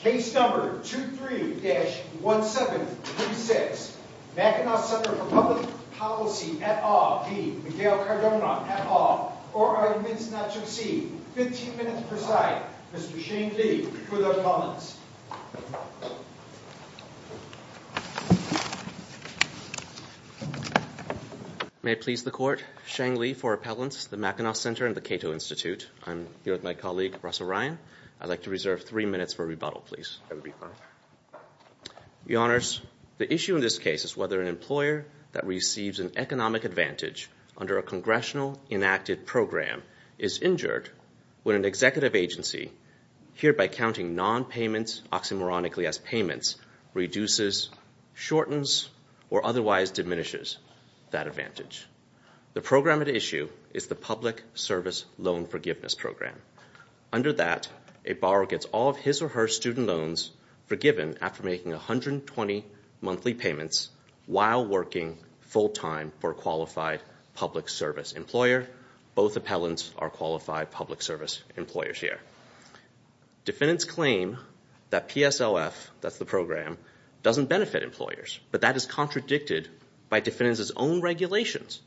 Case No. 23-1736 Mackinac Ctr for Public Policy at All v. Miguel Cardona at All for arguments not to exceed 15 minutes per side Mr. Shang Li for the appellants May it please the court, Shang Li for appellants, the Mackinac Ctr and the Cato Institute I'm here with my colleague, Russell Ryan. I'd like to reserve three minutes for rebuttal, please. The issue in this case is whether an employer that receives an economic advantage under a congressional enacted program is injured when an executive agency, hereby counting non-payments oxymoronically as payments, reduces, shortens, or otherwise diminishes that advantage. The program at issue is the Public Service Loan Forgiveness Program. Under that, a borrower gets all of his or her student loans forgiven after making 120 monthly payments while working full-time for a qualified public service employer. Both appellants are qualified public service employers here. Defendants claim that PSLF, that's the program, doesn't benefit employers. But that is contradicted by defendants' own regulations,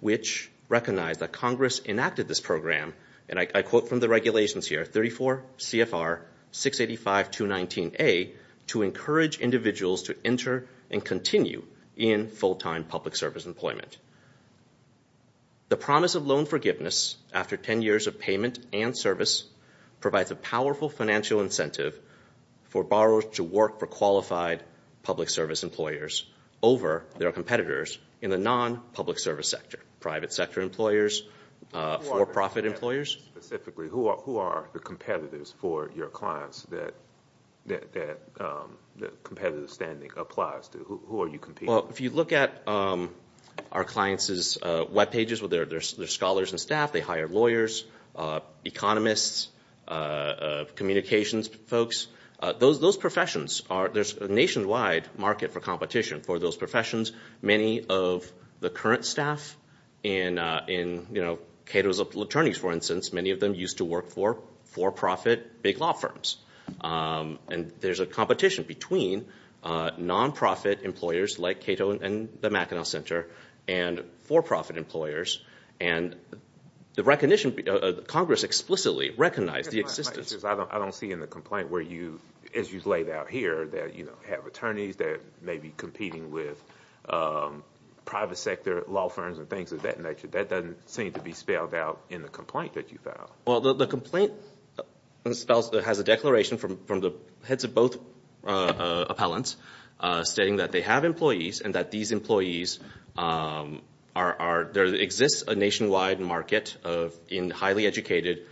which recognize that Congress enacted this program and I quote from the regulations here, 34 CFR 685-219-A to encourage individuals to enter and continue in full-time public service employment. The promise of loan forgiveness after 10 years of payment and service provides a powerful financial incentive for borrowers to work for qualified public service employers over their competitors in the non-public service sector, private sector employers, for-profit employers. Specifically, who are the competitors for your clients that competitive standing applies to? Who are you competing with? Well, if you look at our clients' webpages with their scholars and staff, they hire lawyers, economists, communications folks. Those professions, there's a nationwide market for competition for those professions. Many of the current staff in Cato's attorneys, for instance, many of them used to work for for-profit big law firms. And there's a competition between non-profit employers like Cato and the Mackinac Center and for-profit employers and Congress explicitly recognized the existence. I don't see in the complaint where you, as you've laid out here, that you have attorneys that may be competing with private sector law firms and things of that nature. That doesn't seem to be spelled out in the complaint that you filed. Well, the complaint has a declaration from the heads of both appellants stating that they have employees and that these employees are, there exists a nationwide market in highly educated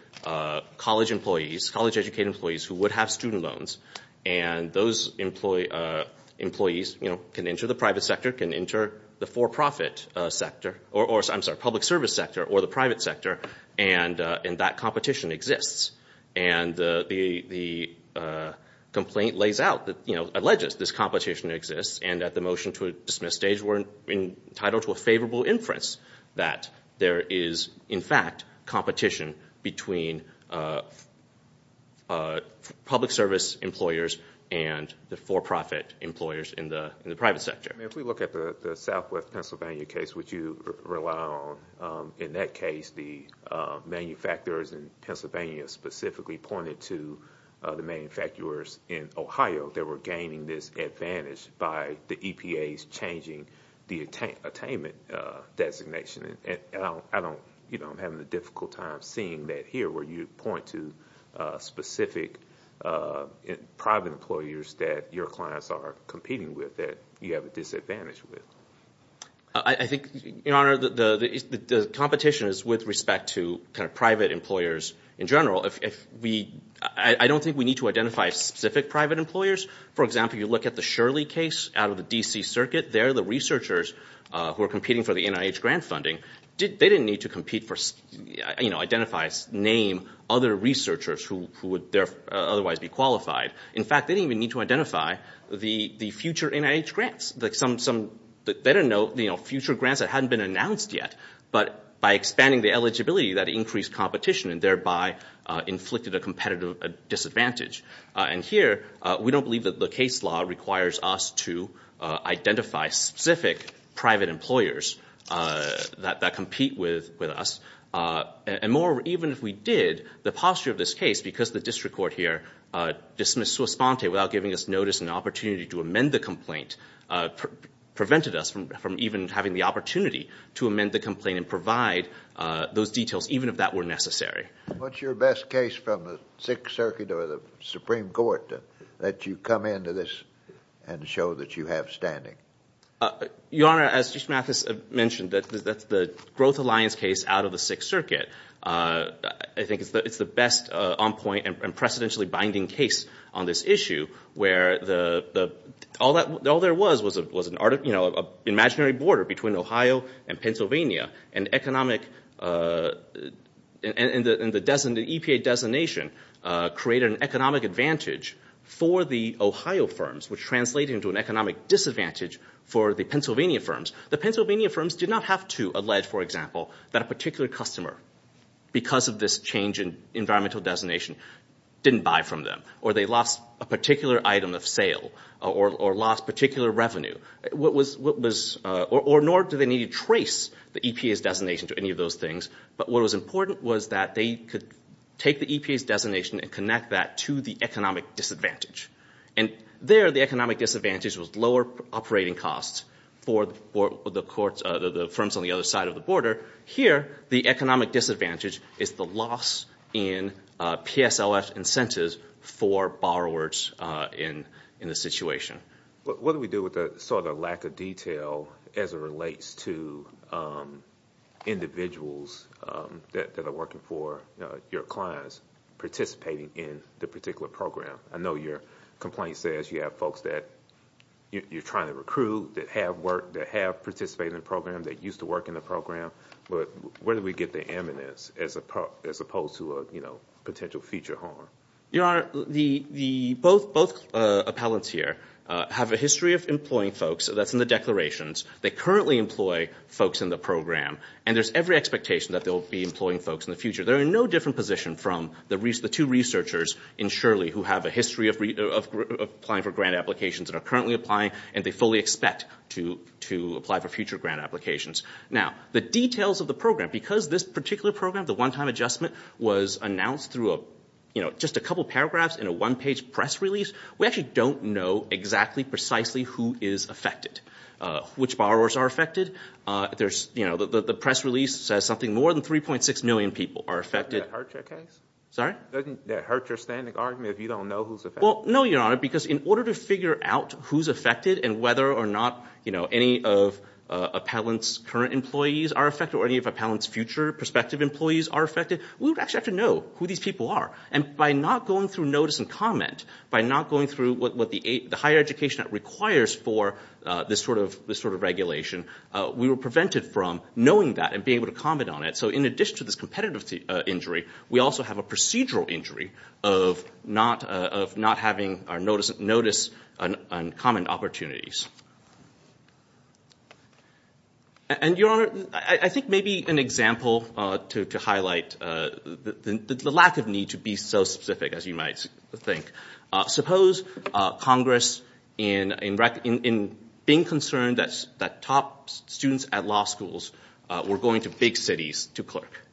college employees, college educated employees who would have student loans. And those employees can enter the private sector, can enter the for-profit sector, or I'm sorry, public service sector or the private sector, and that competition exists. And the complaint lays out, you know, alleges this competition exists and at the motion to dismiss stage we're entitled to a favorable inference that there is in fact competition between public service employers and the for-profit employers in the private sector. If we look at the Southwest Pennsylvania case, which you rely on, in that case the manufacturers in Pennsylvania specifically pointed to the manufacturers in Ohio that were gaining this advantage by the EPA's changing the attainment designation. And I don't, you know, I'm having a difficult time seeing that here where you point to specific private employers that your clients are competing with that you have a disadvantage with. I think, Your Honor, the competition is with respect to kind of private employers in general. If we, I don't think we need to identify specific private employers. For example, you look at the Shirley case out of the D.C. Circuit. They're the researchers who are competing for the NIH grant funding. They didn't need to compete for, you know, identify, name other researchers who would otherwise be qualified. In fact, they didn't even need to identify the future NIH grants. They didn't know, you know, future grants that hadn't been announced yet. But by expanding the eligibility, that increased competition and thereby inflicted a competitive disadvantage. And here, we don't believe that the case law requires us to identify specific private employers that compete with us. And moreover, even if we did, the posture of this case, because the district court here dismissed sua sponte without giving us notice and the opportunity to amend the complaint, prevented us from even having the opportunity to amend the complaint and provide those details, even if that were necessary. What's your best case from the Sixth Circuit or the Supreme Court that you come into this and show that you have standing? Your Honor, as Justice Mathis mentioned, that's the Growth Alliance case out of the Sixth Circuit. I think it's the best on-point and precedentially binding case on this issue where all there was was an imaginary border between Ohio and Pennsylvania and the EPA designation created an economic advantage for the Ohio firms, which translated into an economic disadvantage for the Pennsylvania firms. The Pennsylvania firms did not have to allege, for example, that a particular customer, because of this change in environmental designation, didn't buy from them or they lost a particular item of sale or lost particular revenue. Nor did they need to trace the EPA's designation to any of those things. But what was important was that they could take the EPA's designation and connect that to the economic disadvantage. And there the economic disadvantage was lower operating costs for the firms on the other side of the border. Here, the economic disadvantage is the loss in PSLF incentives for borrowers in the situation. What do we do with the lack of detail as it relates to individuals that are working for your clients, participating in the particular program? I know your complaint says you have folks that you're trying to recruit, that have participated in the program, that used to work in the program, but where do we get the eminence as opposed to a potential future harm? Your Honor, both appellants here have a history of employing folks. That's in the declarations. They currently employ folks in the program, and there's every expectation that they'll be employing folks in the future. They're in no different position from the two researchers in Shirley who have a history of applying for grant applications and are currently applying, and they fully expect to apply for future grant applications. Now, the details of the program, because this particular program, the one-time adjustment, was announced through just a couple paragraphs in a one-page press release, we actually don't know exactly, precisely who is affected, which borrowers are affected. The press release says something more than 3.6 million people are affected. Doesn't that hurt your case? You don't know who's affected? No, Your Honor, because in order to figure out who's affected and whether or not any of appellants' current employees are affected or any of appellants' future prospective employees are affected, we would actually have to know who these people are. And by not going through notice and comment, by not going through what the higher education requires for this sort of regulation, we were prevented from knowing that and being able to comment on it. So in addition to this competitive injury, we also have a procedural injury of not having notice and comment opportunities. And, Your Honor, I think maybe an example to highlight the lack of need to be so specific, as you might think, suppose Congress, in being concerned that top students at law schools were going to big cities to clerk,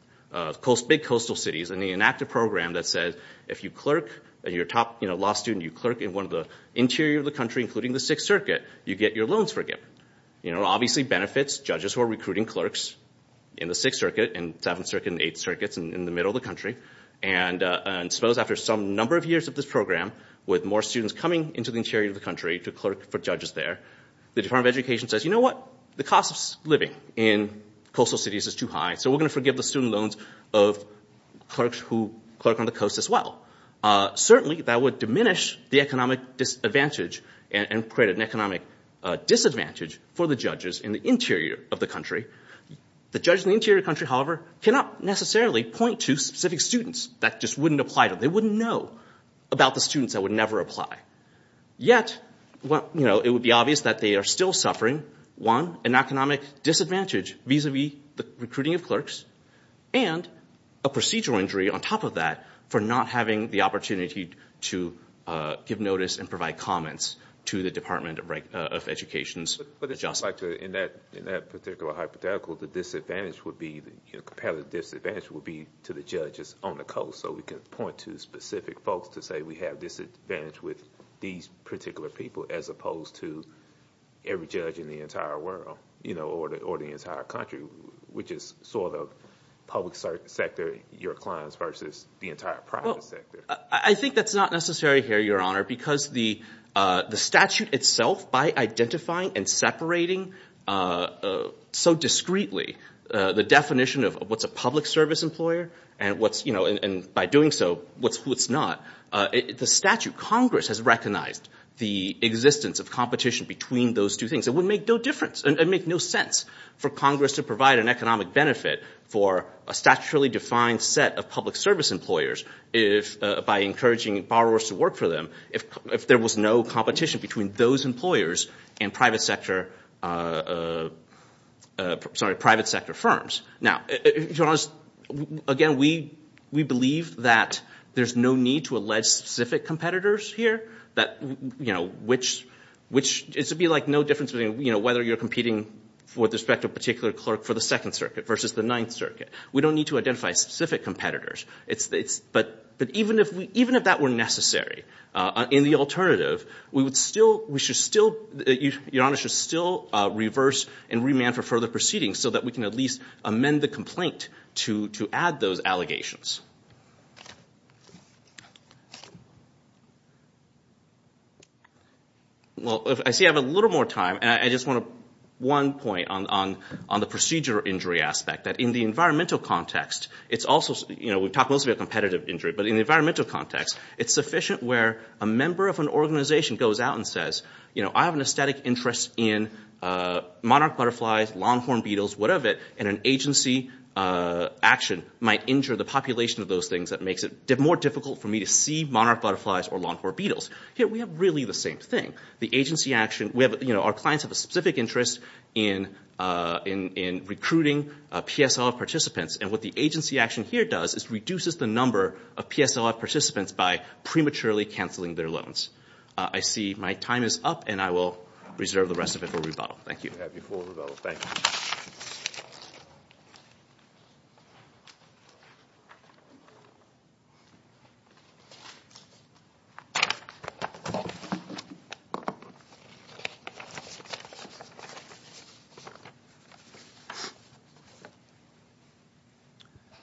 big coastal cities, and they enact a program that says if you clerk, if you're a top law student, you clerk in one of the interiors of the country, including the Sixth Circuit, you get your loans forgiven. It obviously benefits judges who are recruiting clerks in the Sixth Circuit and Seventh Circuit and Eighth Circuit in the middle of the country. And suppose after some number of years of this program, with more students coming into the interior of the country to clerk for judges there, the Department of Education says, you know what, the cost of living in coastal cities is too high, so we're going to forgive the student loans of clerks who clerk on the coast as well. Certainly, that would diminish the economic disadvantage and create an economic disadvantage for the judges in the interior of the country. The judges in the interior of the country, however, cannot necessarily point to specific students. That just wouldn't apply to them. They wouldn't know about the students that would never apply. Yet, it would be obvious that they are still suffering, one, an economic disadvantage vis-a-vis the recruiting of clerks, and a procedural injury on top of that for not having the opportunity to give notice and provide comments to the Department of Education's adjustment. But it seems like in that particular hypothetical, the disadvantage would be, the comparative disadvantage would be to the judges on the coast, so we can point to specific folks to say we have disadvantage with these particular people as opposed to every judge in the entire world or the entire country, which is sort of public sector, your clients versus the entire private sector. I think that's not necessary here, Your Honor, because the statute itself, by identifying and separating so discreetly the definition of what's a public service employer and by doing so what's who it's not, the statute, Congress has recognized the existence of competition between those two things. It would make no difference. It would make no sense for Congress to provide an economic benefit for a statutorily defined set of public service employers by encouraging borrowers to work for them if there was no competition between those employers and private sector firms. Now, Your Honor, again, we believe that there's no need to allege specific competitors here, which it would be like no difference whether you're competing with respect to a particular clerk for the Second Circuit versus the Ninth Circuit. We don't need to identify specific competitors. But even if that were necessary in the alternative, Your Honor, we should still reverse and remand for further proceedings so that we can at least amend the complaint to add those allegations. Well, I see I have a little more time, and I just want one point on the procedure injury aspect, that in the environmental context it's also, you know, we've talked mostly about competitive injury, but in the environmental context it's sufficient where a member of an organization goes out and says, you know, I have an aesthetic interest in monarch butterflies, longhorn beetles, whatever, and an agency action might injure the population of those things that makes it more difficult for me to see monarch butterflies or longhorn beetles. Here we have really the same thing. The agency action, you know, our clients have a specific interest in recruiting PSLF participants, and what the agency action here does is reduces the number of PSLF participants by prematurely canceling their loans. I see my time is up, and I will reserve the rest of it for rebuttal. Thank you. We'll have you for rebuttal. Thank you.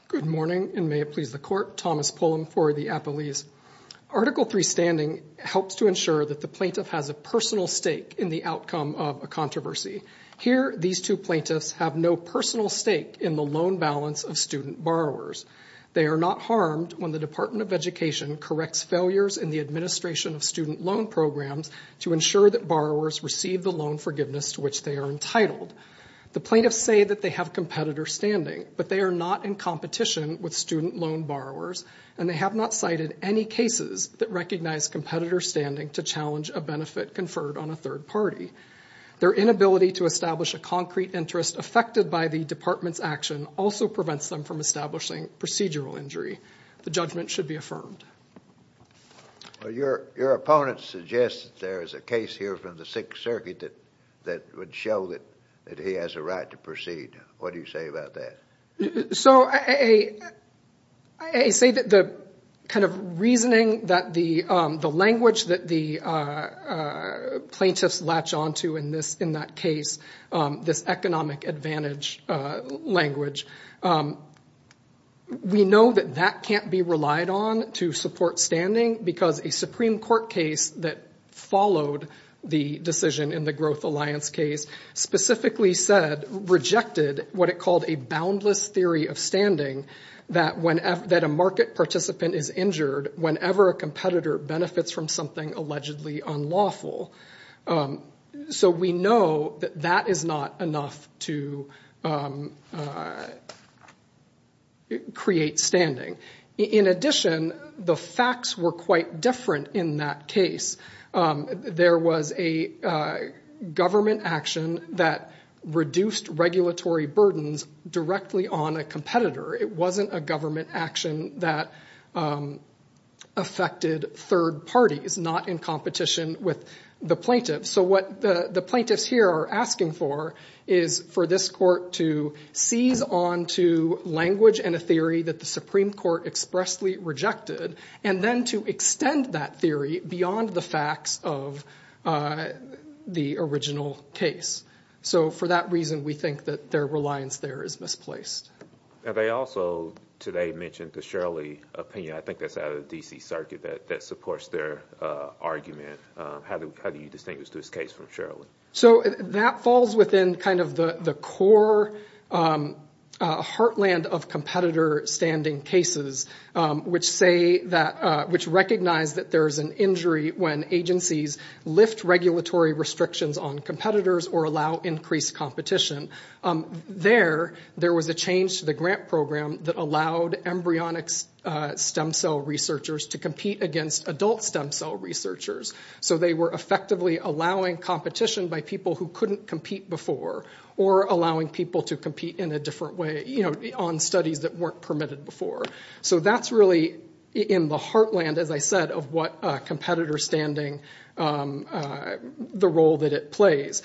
Good morning, and may it please the Court. Thomas Pullum for the Appellees. Article 3 standing helps to ensure that the plaintiff has a personal stake in the outcome of a controversy. Here these two plaintiffs have no personal stake in the loan balance of student borrowers. They are not harmed when the Department of Education corrects failures in the administration of student loan programs to ensure that borrowers receive the loan forgiveness to which they are entitled. The plaintiffs say that they have competitor standing, but they are not in competition with student loan borrowers, and they have not cited any cases that recognize competitor standing to challenge a benefit conferred on a third party. Their inability to establish a concrete interest affected by the Department's action also prevents them from establishing procedural injury. The judgment should be affirmed. Well, your opponent suggests that there is a case here from the Sixth Circuit that would show that he has a right to proceed. What do you say about that? So I say that the kind of reasoning that the language that the plaintiffs latch onto in that case, this economic advantage language, we know that that can't be relied on to support standing because a Supreme Court case that followed the decision in the Growth Alliance case specifically said, rejected what it called a boundless theory of standing that a market participant is injured whenever a competitor benefits from something allegedly unlawful. So we know that that is not enough to create standing. In addition, the facts were quite different in that case. There was a government action that reduced regulatory burdens directly on a competitor. It wasn't a government action that affected third parties, not in competition with the plaintiffs. So what the plaintiffs here are asking for is for this court to seize onto language and a theory that the Supreme Court expressly rejected, and then to extend that theory beyond the facts of the original case. So for that reason, we think that their reliance there is misplaced. They also today mentioned the Shirley opinion. I think that's out of the D.C. Circuit that supports their argument. How do you distinguish this case from Shirley? So that falls within kind of the core heartland of competitor standing cases, which recognize that there is an injury when agencies lift regulatory restrictions on competitors or allow increased competition. There, there was a change to the grant program that allowed embryonic stem cell researchers to compete against adult stem cell researchers. So they were effectively allowing competition by people who couldn't compete before or allowing people to compete in a different way on studies that weren't permitted before. So that's really in the heartland, as I said, of what competitor standing, the role that it plays.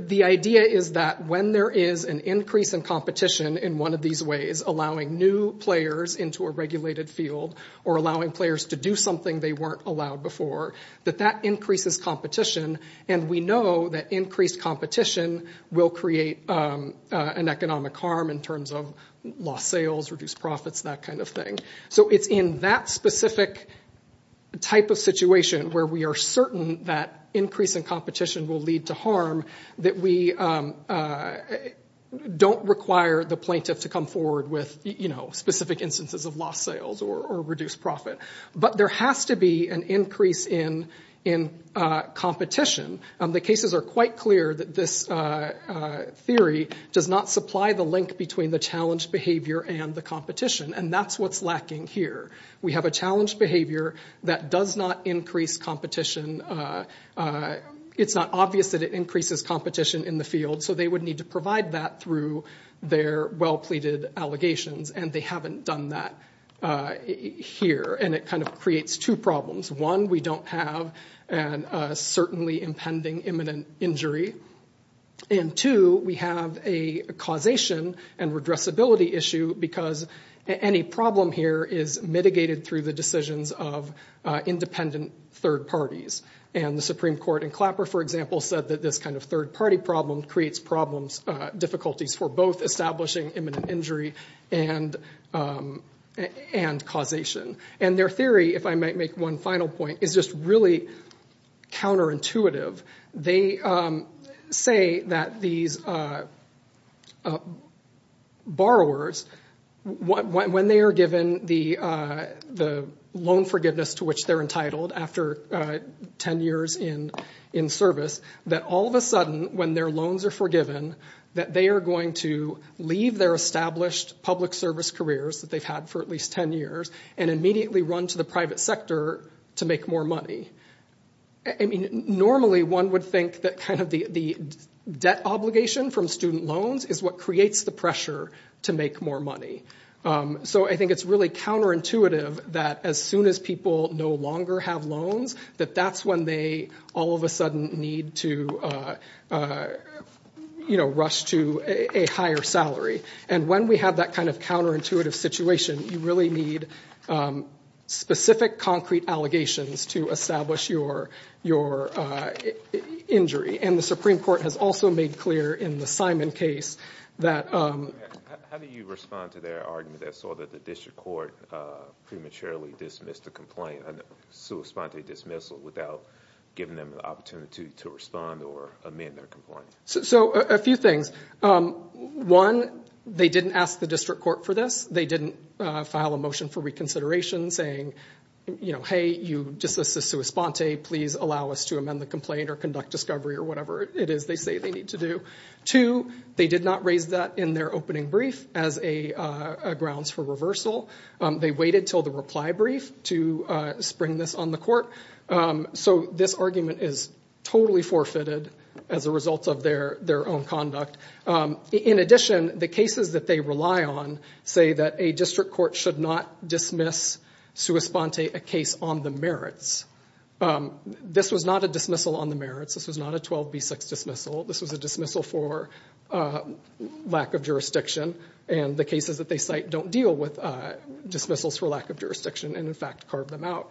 The idea is that when there is an increase in competition in one of these ways, allowing new players into a regulated field or allowing players to do something they weren't allowed before, that that increases competition, and we know that increased competition will create an economic harm in terms of lost sales, reduced profits, that kind of thing. So it's in that specific type of situation where we are certain that increase in competition will lead to harm that we don't require the plaintiff to come forward with specific instances of lost sales or reduced profit. But there has to be an increase in competition. The cases are quite clear that this theory does not supply the link between the challenge behavior and the competition, and that's what's lacking here. We have a challenge behavior that does not increase competition. It's not obvious that it increases competition in the field, so they would need to provide that through their well-pleaded allegations, and they haven't done that here, and it kind of creates two problems. One, we don't have a certainly impending imminent injury, and two, we have a causation and redressability issue because any problem here is mitigated through the decisions of independent third parties. And the Supreme Court in Clapper, for example, said that this kind of third-party problem creates difficulties for both establishing imminent injury and causation. And their theory, if I might make one final point, is just really counterintuitive. They say that these borrowers, when they are given the loan forgiveness to which they're entitled after 10 years in service, that all of a sudden, when their loans are forgiven, that they are going to leave their established public service careers that they've had for at least 10 years and immediately run to the private sector to make more money. Normally, one would think that the debt obligation from student loans is what creates the pressure to make more money. So I think it's really counterintuitive that as soon as people no longer have loans, that that's when they all of a sudden need to rush to a higher salary. And when we have that kind of counterintuitive situation, you really need specific concrete allegations to establish your injury. And the Supreme Court has also made clear in the Simon case that— How do you respond to their argument that saw that the district court prematurely dismissed a complaint, a sua sponte dismissal, without giving them the opportunity to respond or amend their complaint? So a few things. One, they didn't ask the district court for this. They didn't file a motion for reconsideration saying, hey, you dismissed a sua sponte. Please allow us to amend the complaint or conduct discovery or whatever it is they say they need to do. Two, they did not raise that in their opening brief as grounds for reversal. They waited until the reply brief to spring this on the court. So this argument is totally forfeited as a result of their own conduct. In addition, the cases that they rely on say that a district court should not dismiss sua sponte, a case on the merits. This was not a dismissal on the merits. This was not a 12B6 dismissal. This was a dismissal for lack of jurisdiction. And the cases that they cite don't deal with dismissals for lack of jurisdiction and, in fact, carve them out.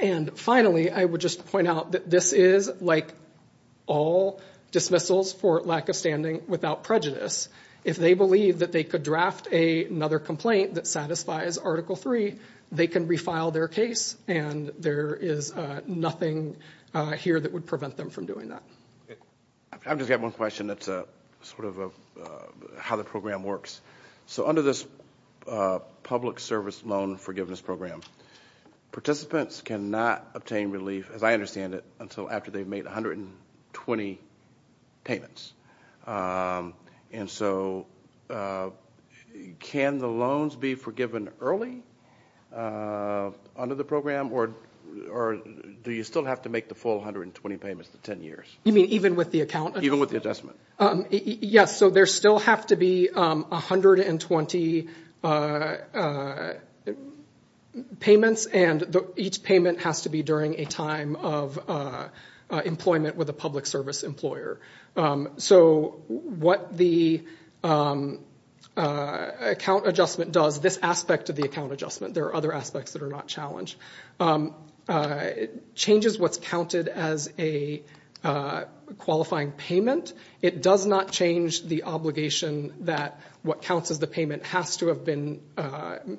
And finally, I would just point out that this is like all dismissals for lack of standing without prejudice. If they believe that they could draft another complaint that satisfies Article III, they can refile their case, and there is nothing here that would prevent them from doing that. I've just got one question that's sort of how the program works. So under this public service loan forgiveness program, participants cannot obtain relief, as I understand it, until after they've made 120 payments. And so can the loans be forgiven early under the program, or do you still have to make the full 120 payments to 10 years? You mean even with the account? Even with the adjustment. Yes, so there still have to be 120 payments, and each payment has to be during a time of employment with a public service employer. So what the account adjustment does, this aspect of the account adjustment, there are other aspects that are not challenged, changes what's counted as a qualifying payment. It does not change the obligation that what counts as the payment has to have been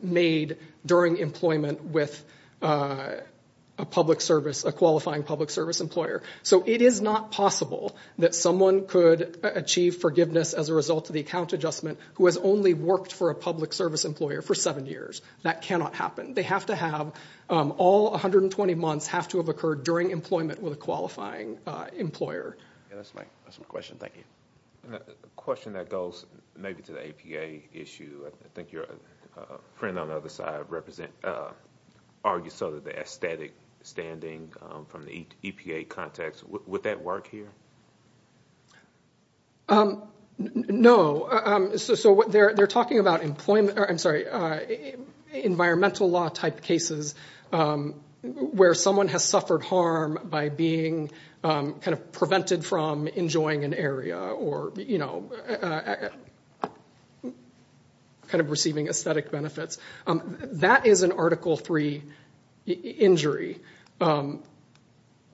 made during employment with a qualifying public service employer. So it is not possible that someone could achieve forgiveness as a result of the account adjustment who has only worked for a public service employer for seven years. That cannot happen. They have to have all 120 months have to have occurred during employment with a qualifying employer. That's my question. Thank you. A question that goes maybe to the APA issue. I think your friend on the other side argues the aesthetic standing from the EPA context. Would that work here? No. They're talking about environmental law type cases where someone has suffered harm by being kind of prevented from enjoying an area or kind of receiving aesthetic benefits. That is an Article III injury, and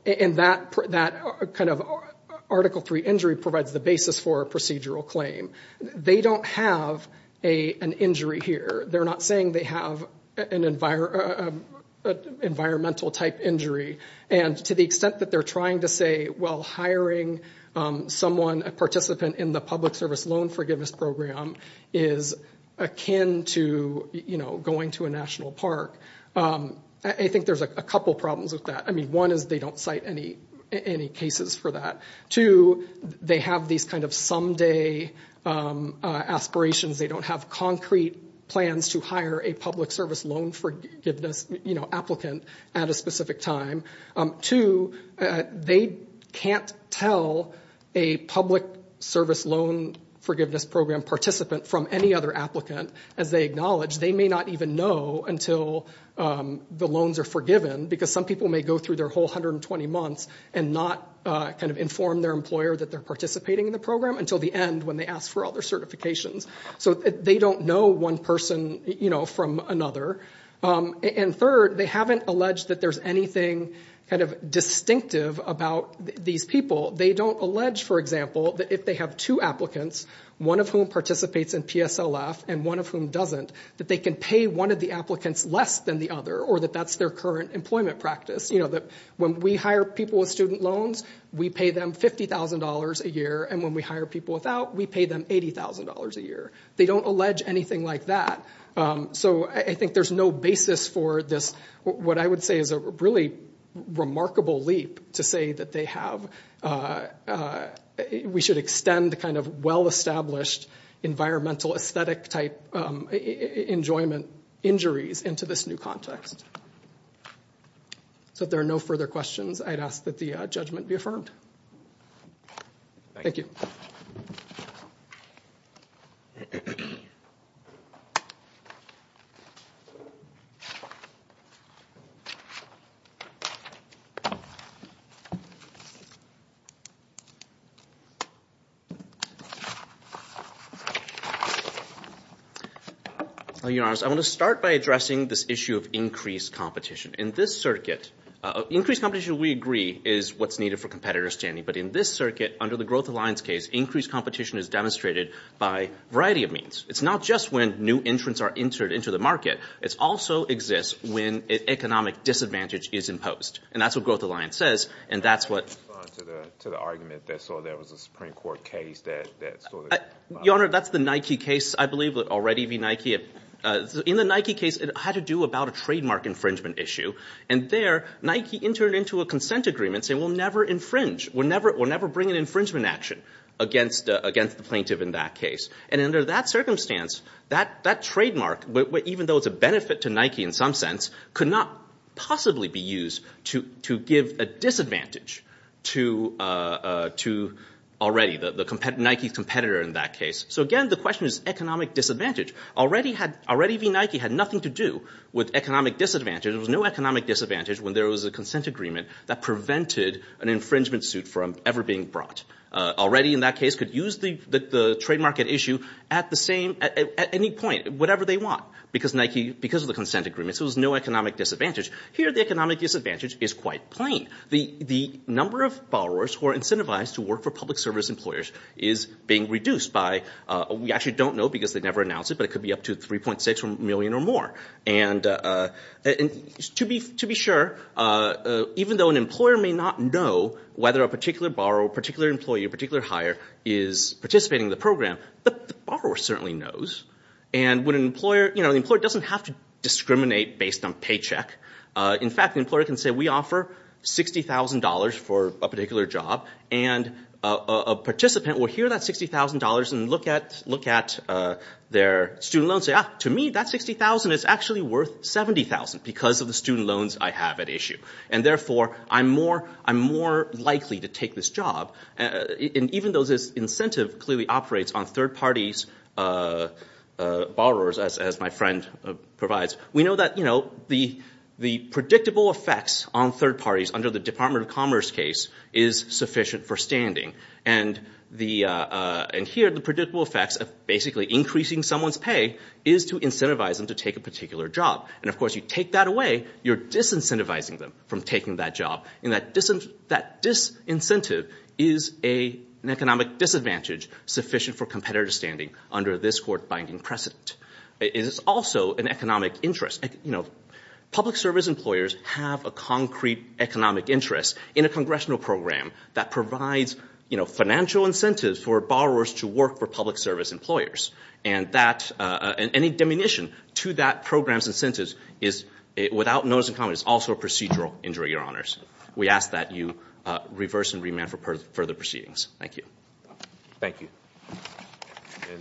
that kind of Article III injury provides the basis for a procedural claim. They don't have an injury here. They're not saying they have an environmental type injury, and to the extent that they're trying to say, well, hiring someone, a participant in the public service loan forgiveness program is akin to going to a national park, I think there's a couple problems with that. I mean, one is they don't cite any cases for that. Two, they have these kind of someday aspirations. They don't have concrete plans to hire a public service loan forgiveness applicant at a specific time. Two, they can't tell a public service loan forgiveness program participant from any other applicant. As they acknowledge, they may not even know until the loans are forgiven, because some people may go through their whole 120 months and not kind of inform their employer that they're participating in the program until the end when they ask for other certifications. So they don't know one person from another. And third, they haven't alleged that there's anything kind of distinctive about these people. They don't allege, for example, that if they have two applicants, one of whom participates in PSLF and one of whom doesn't, that they can pay one of the applicants less than the other or that that's their current employment practice. You know, that when we hire people with student loans, we pay them $50,000 a year, and when we hire people without, we pay them $80,000 a year. They don't allege anything like that. So I think there's no basis for this, what I would say is a really remarkable leap, to say that we should extend kind of well-established environmental aesthetic type enjoyment injuries into this new context. So if there are no further questions, I'd ask that the judgment be affirmed. Thank you. Thank you. I want to start by addressing this issue of increased competition. In this circuit, increased competition, we agree, is what's needed for competitor standing. But in this circuit, under the Growth Alliance case, increased competition is demonstrated by a variety of means. It's not just when new entrants are entered into the market. It also exists when economic disadvantage is imposed. And that's what Growth Alliance says, and that's what – Can you respond to the argument that there was a Supreme Court case that sort of – Your Honor, that's the Nike case, I believe would already be Nike. In the Nike case, it had to do about a trademark infringement issue. And there, Nike entered into a consent agreement saying we'll never infringe, we'll never bring an infringement action against the plaintiff in that case. And under that circumstance, that trademark, even though it's a benefit to Nike in some sense, could not possibly be used to give a disadvantage to already the Nike competitor in that case. So again, the question is economic disadvantage. Already Nike had nothing to do with economic disadvantage. There was no economic disadvantage when there was a consent agreement that prevented an infringement suit from ever being brought. Already in that case could use the trademark at issue at the same – at any point, whatever they want. Because Nike – because of the consent agreement, there was no economic disadvantage. Here, the economic disadvantage is quite plain. The number of borrowers who are incentivized to work for public service employers is being reduced by – we actually don't know because they never announced it, but it could be up to 3.6 million or more. And to be sure, even though an employer may not know whether a particular borrower, a particular employee, a particular hire is participating in the program, the borrower certainly knows. And when an employer – the employer doesn't have to discriminate based on paycheck. In fact, the employer can say we offer $60,000 for a particular job, and a participant will hear that $60,000 and look at their student loan and say, yeah, to me that $60,000 is actually worth $70,000 because of the student loans I have at issue. And therefore, I'm more likely to take this job. And even though this incentive clearly operates on third parties, borrowers as my friend provides, we know that the predictable effects on third parties under the Department of Commerce case is sufficient for standing. And here, the predictable effects of basically increasing someone's pay is to incentivize them to take a particular job. And of course, you take that away, you're disincentivizing them from taking that job. And that disincentive is an economic disadvantage sufficient for competitive standing under this court-binding precedent. It is also an economic interest. Public service employers have a concrete economic interest in a congressional program that provides financial incentives for borrowers to work for public service employers. And any diminution to that program's incentives without notice of comment is also a procedural injury, Your Honors. We ask that you reverse and remand for further proceedings. Thank you. Thank you.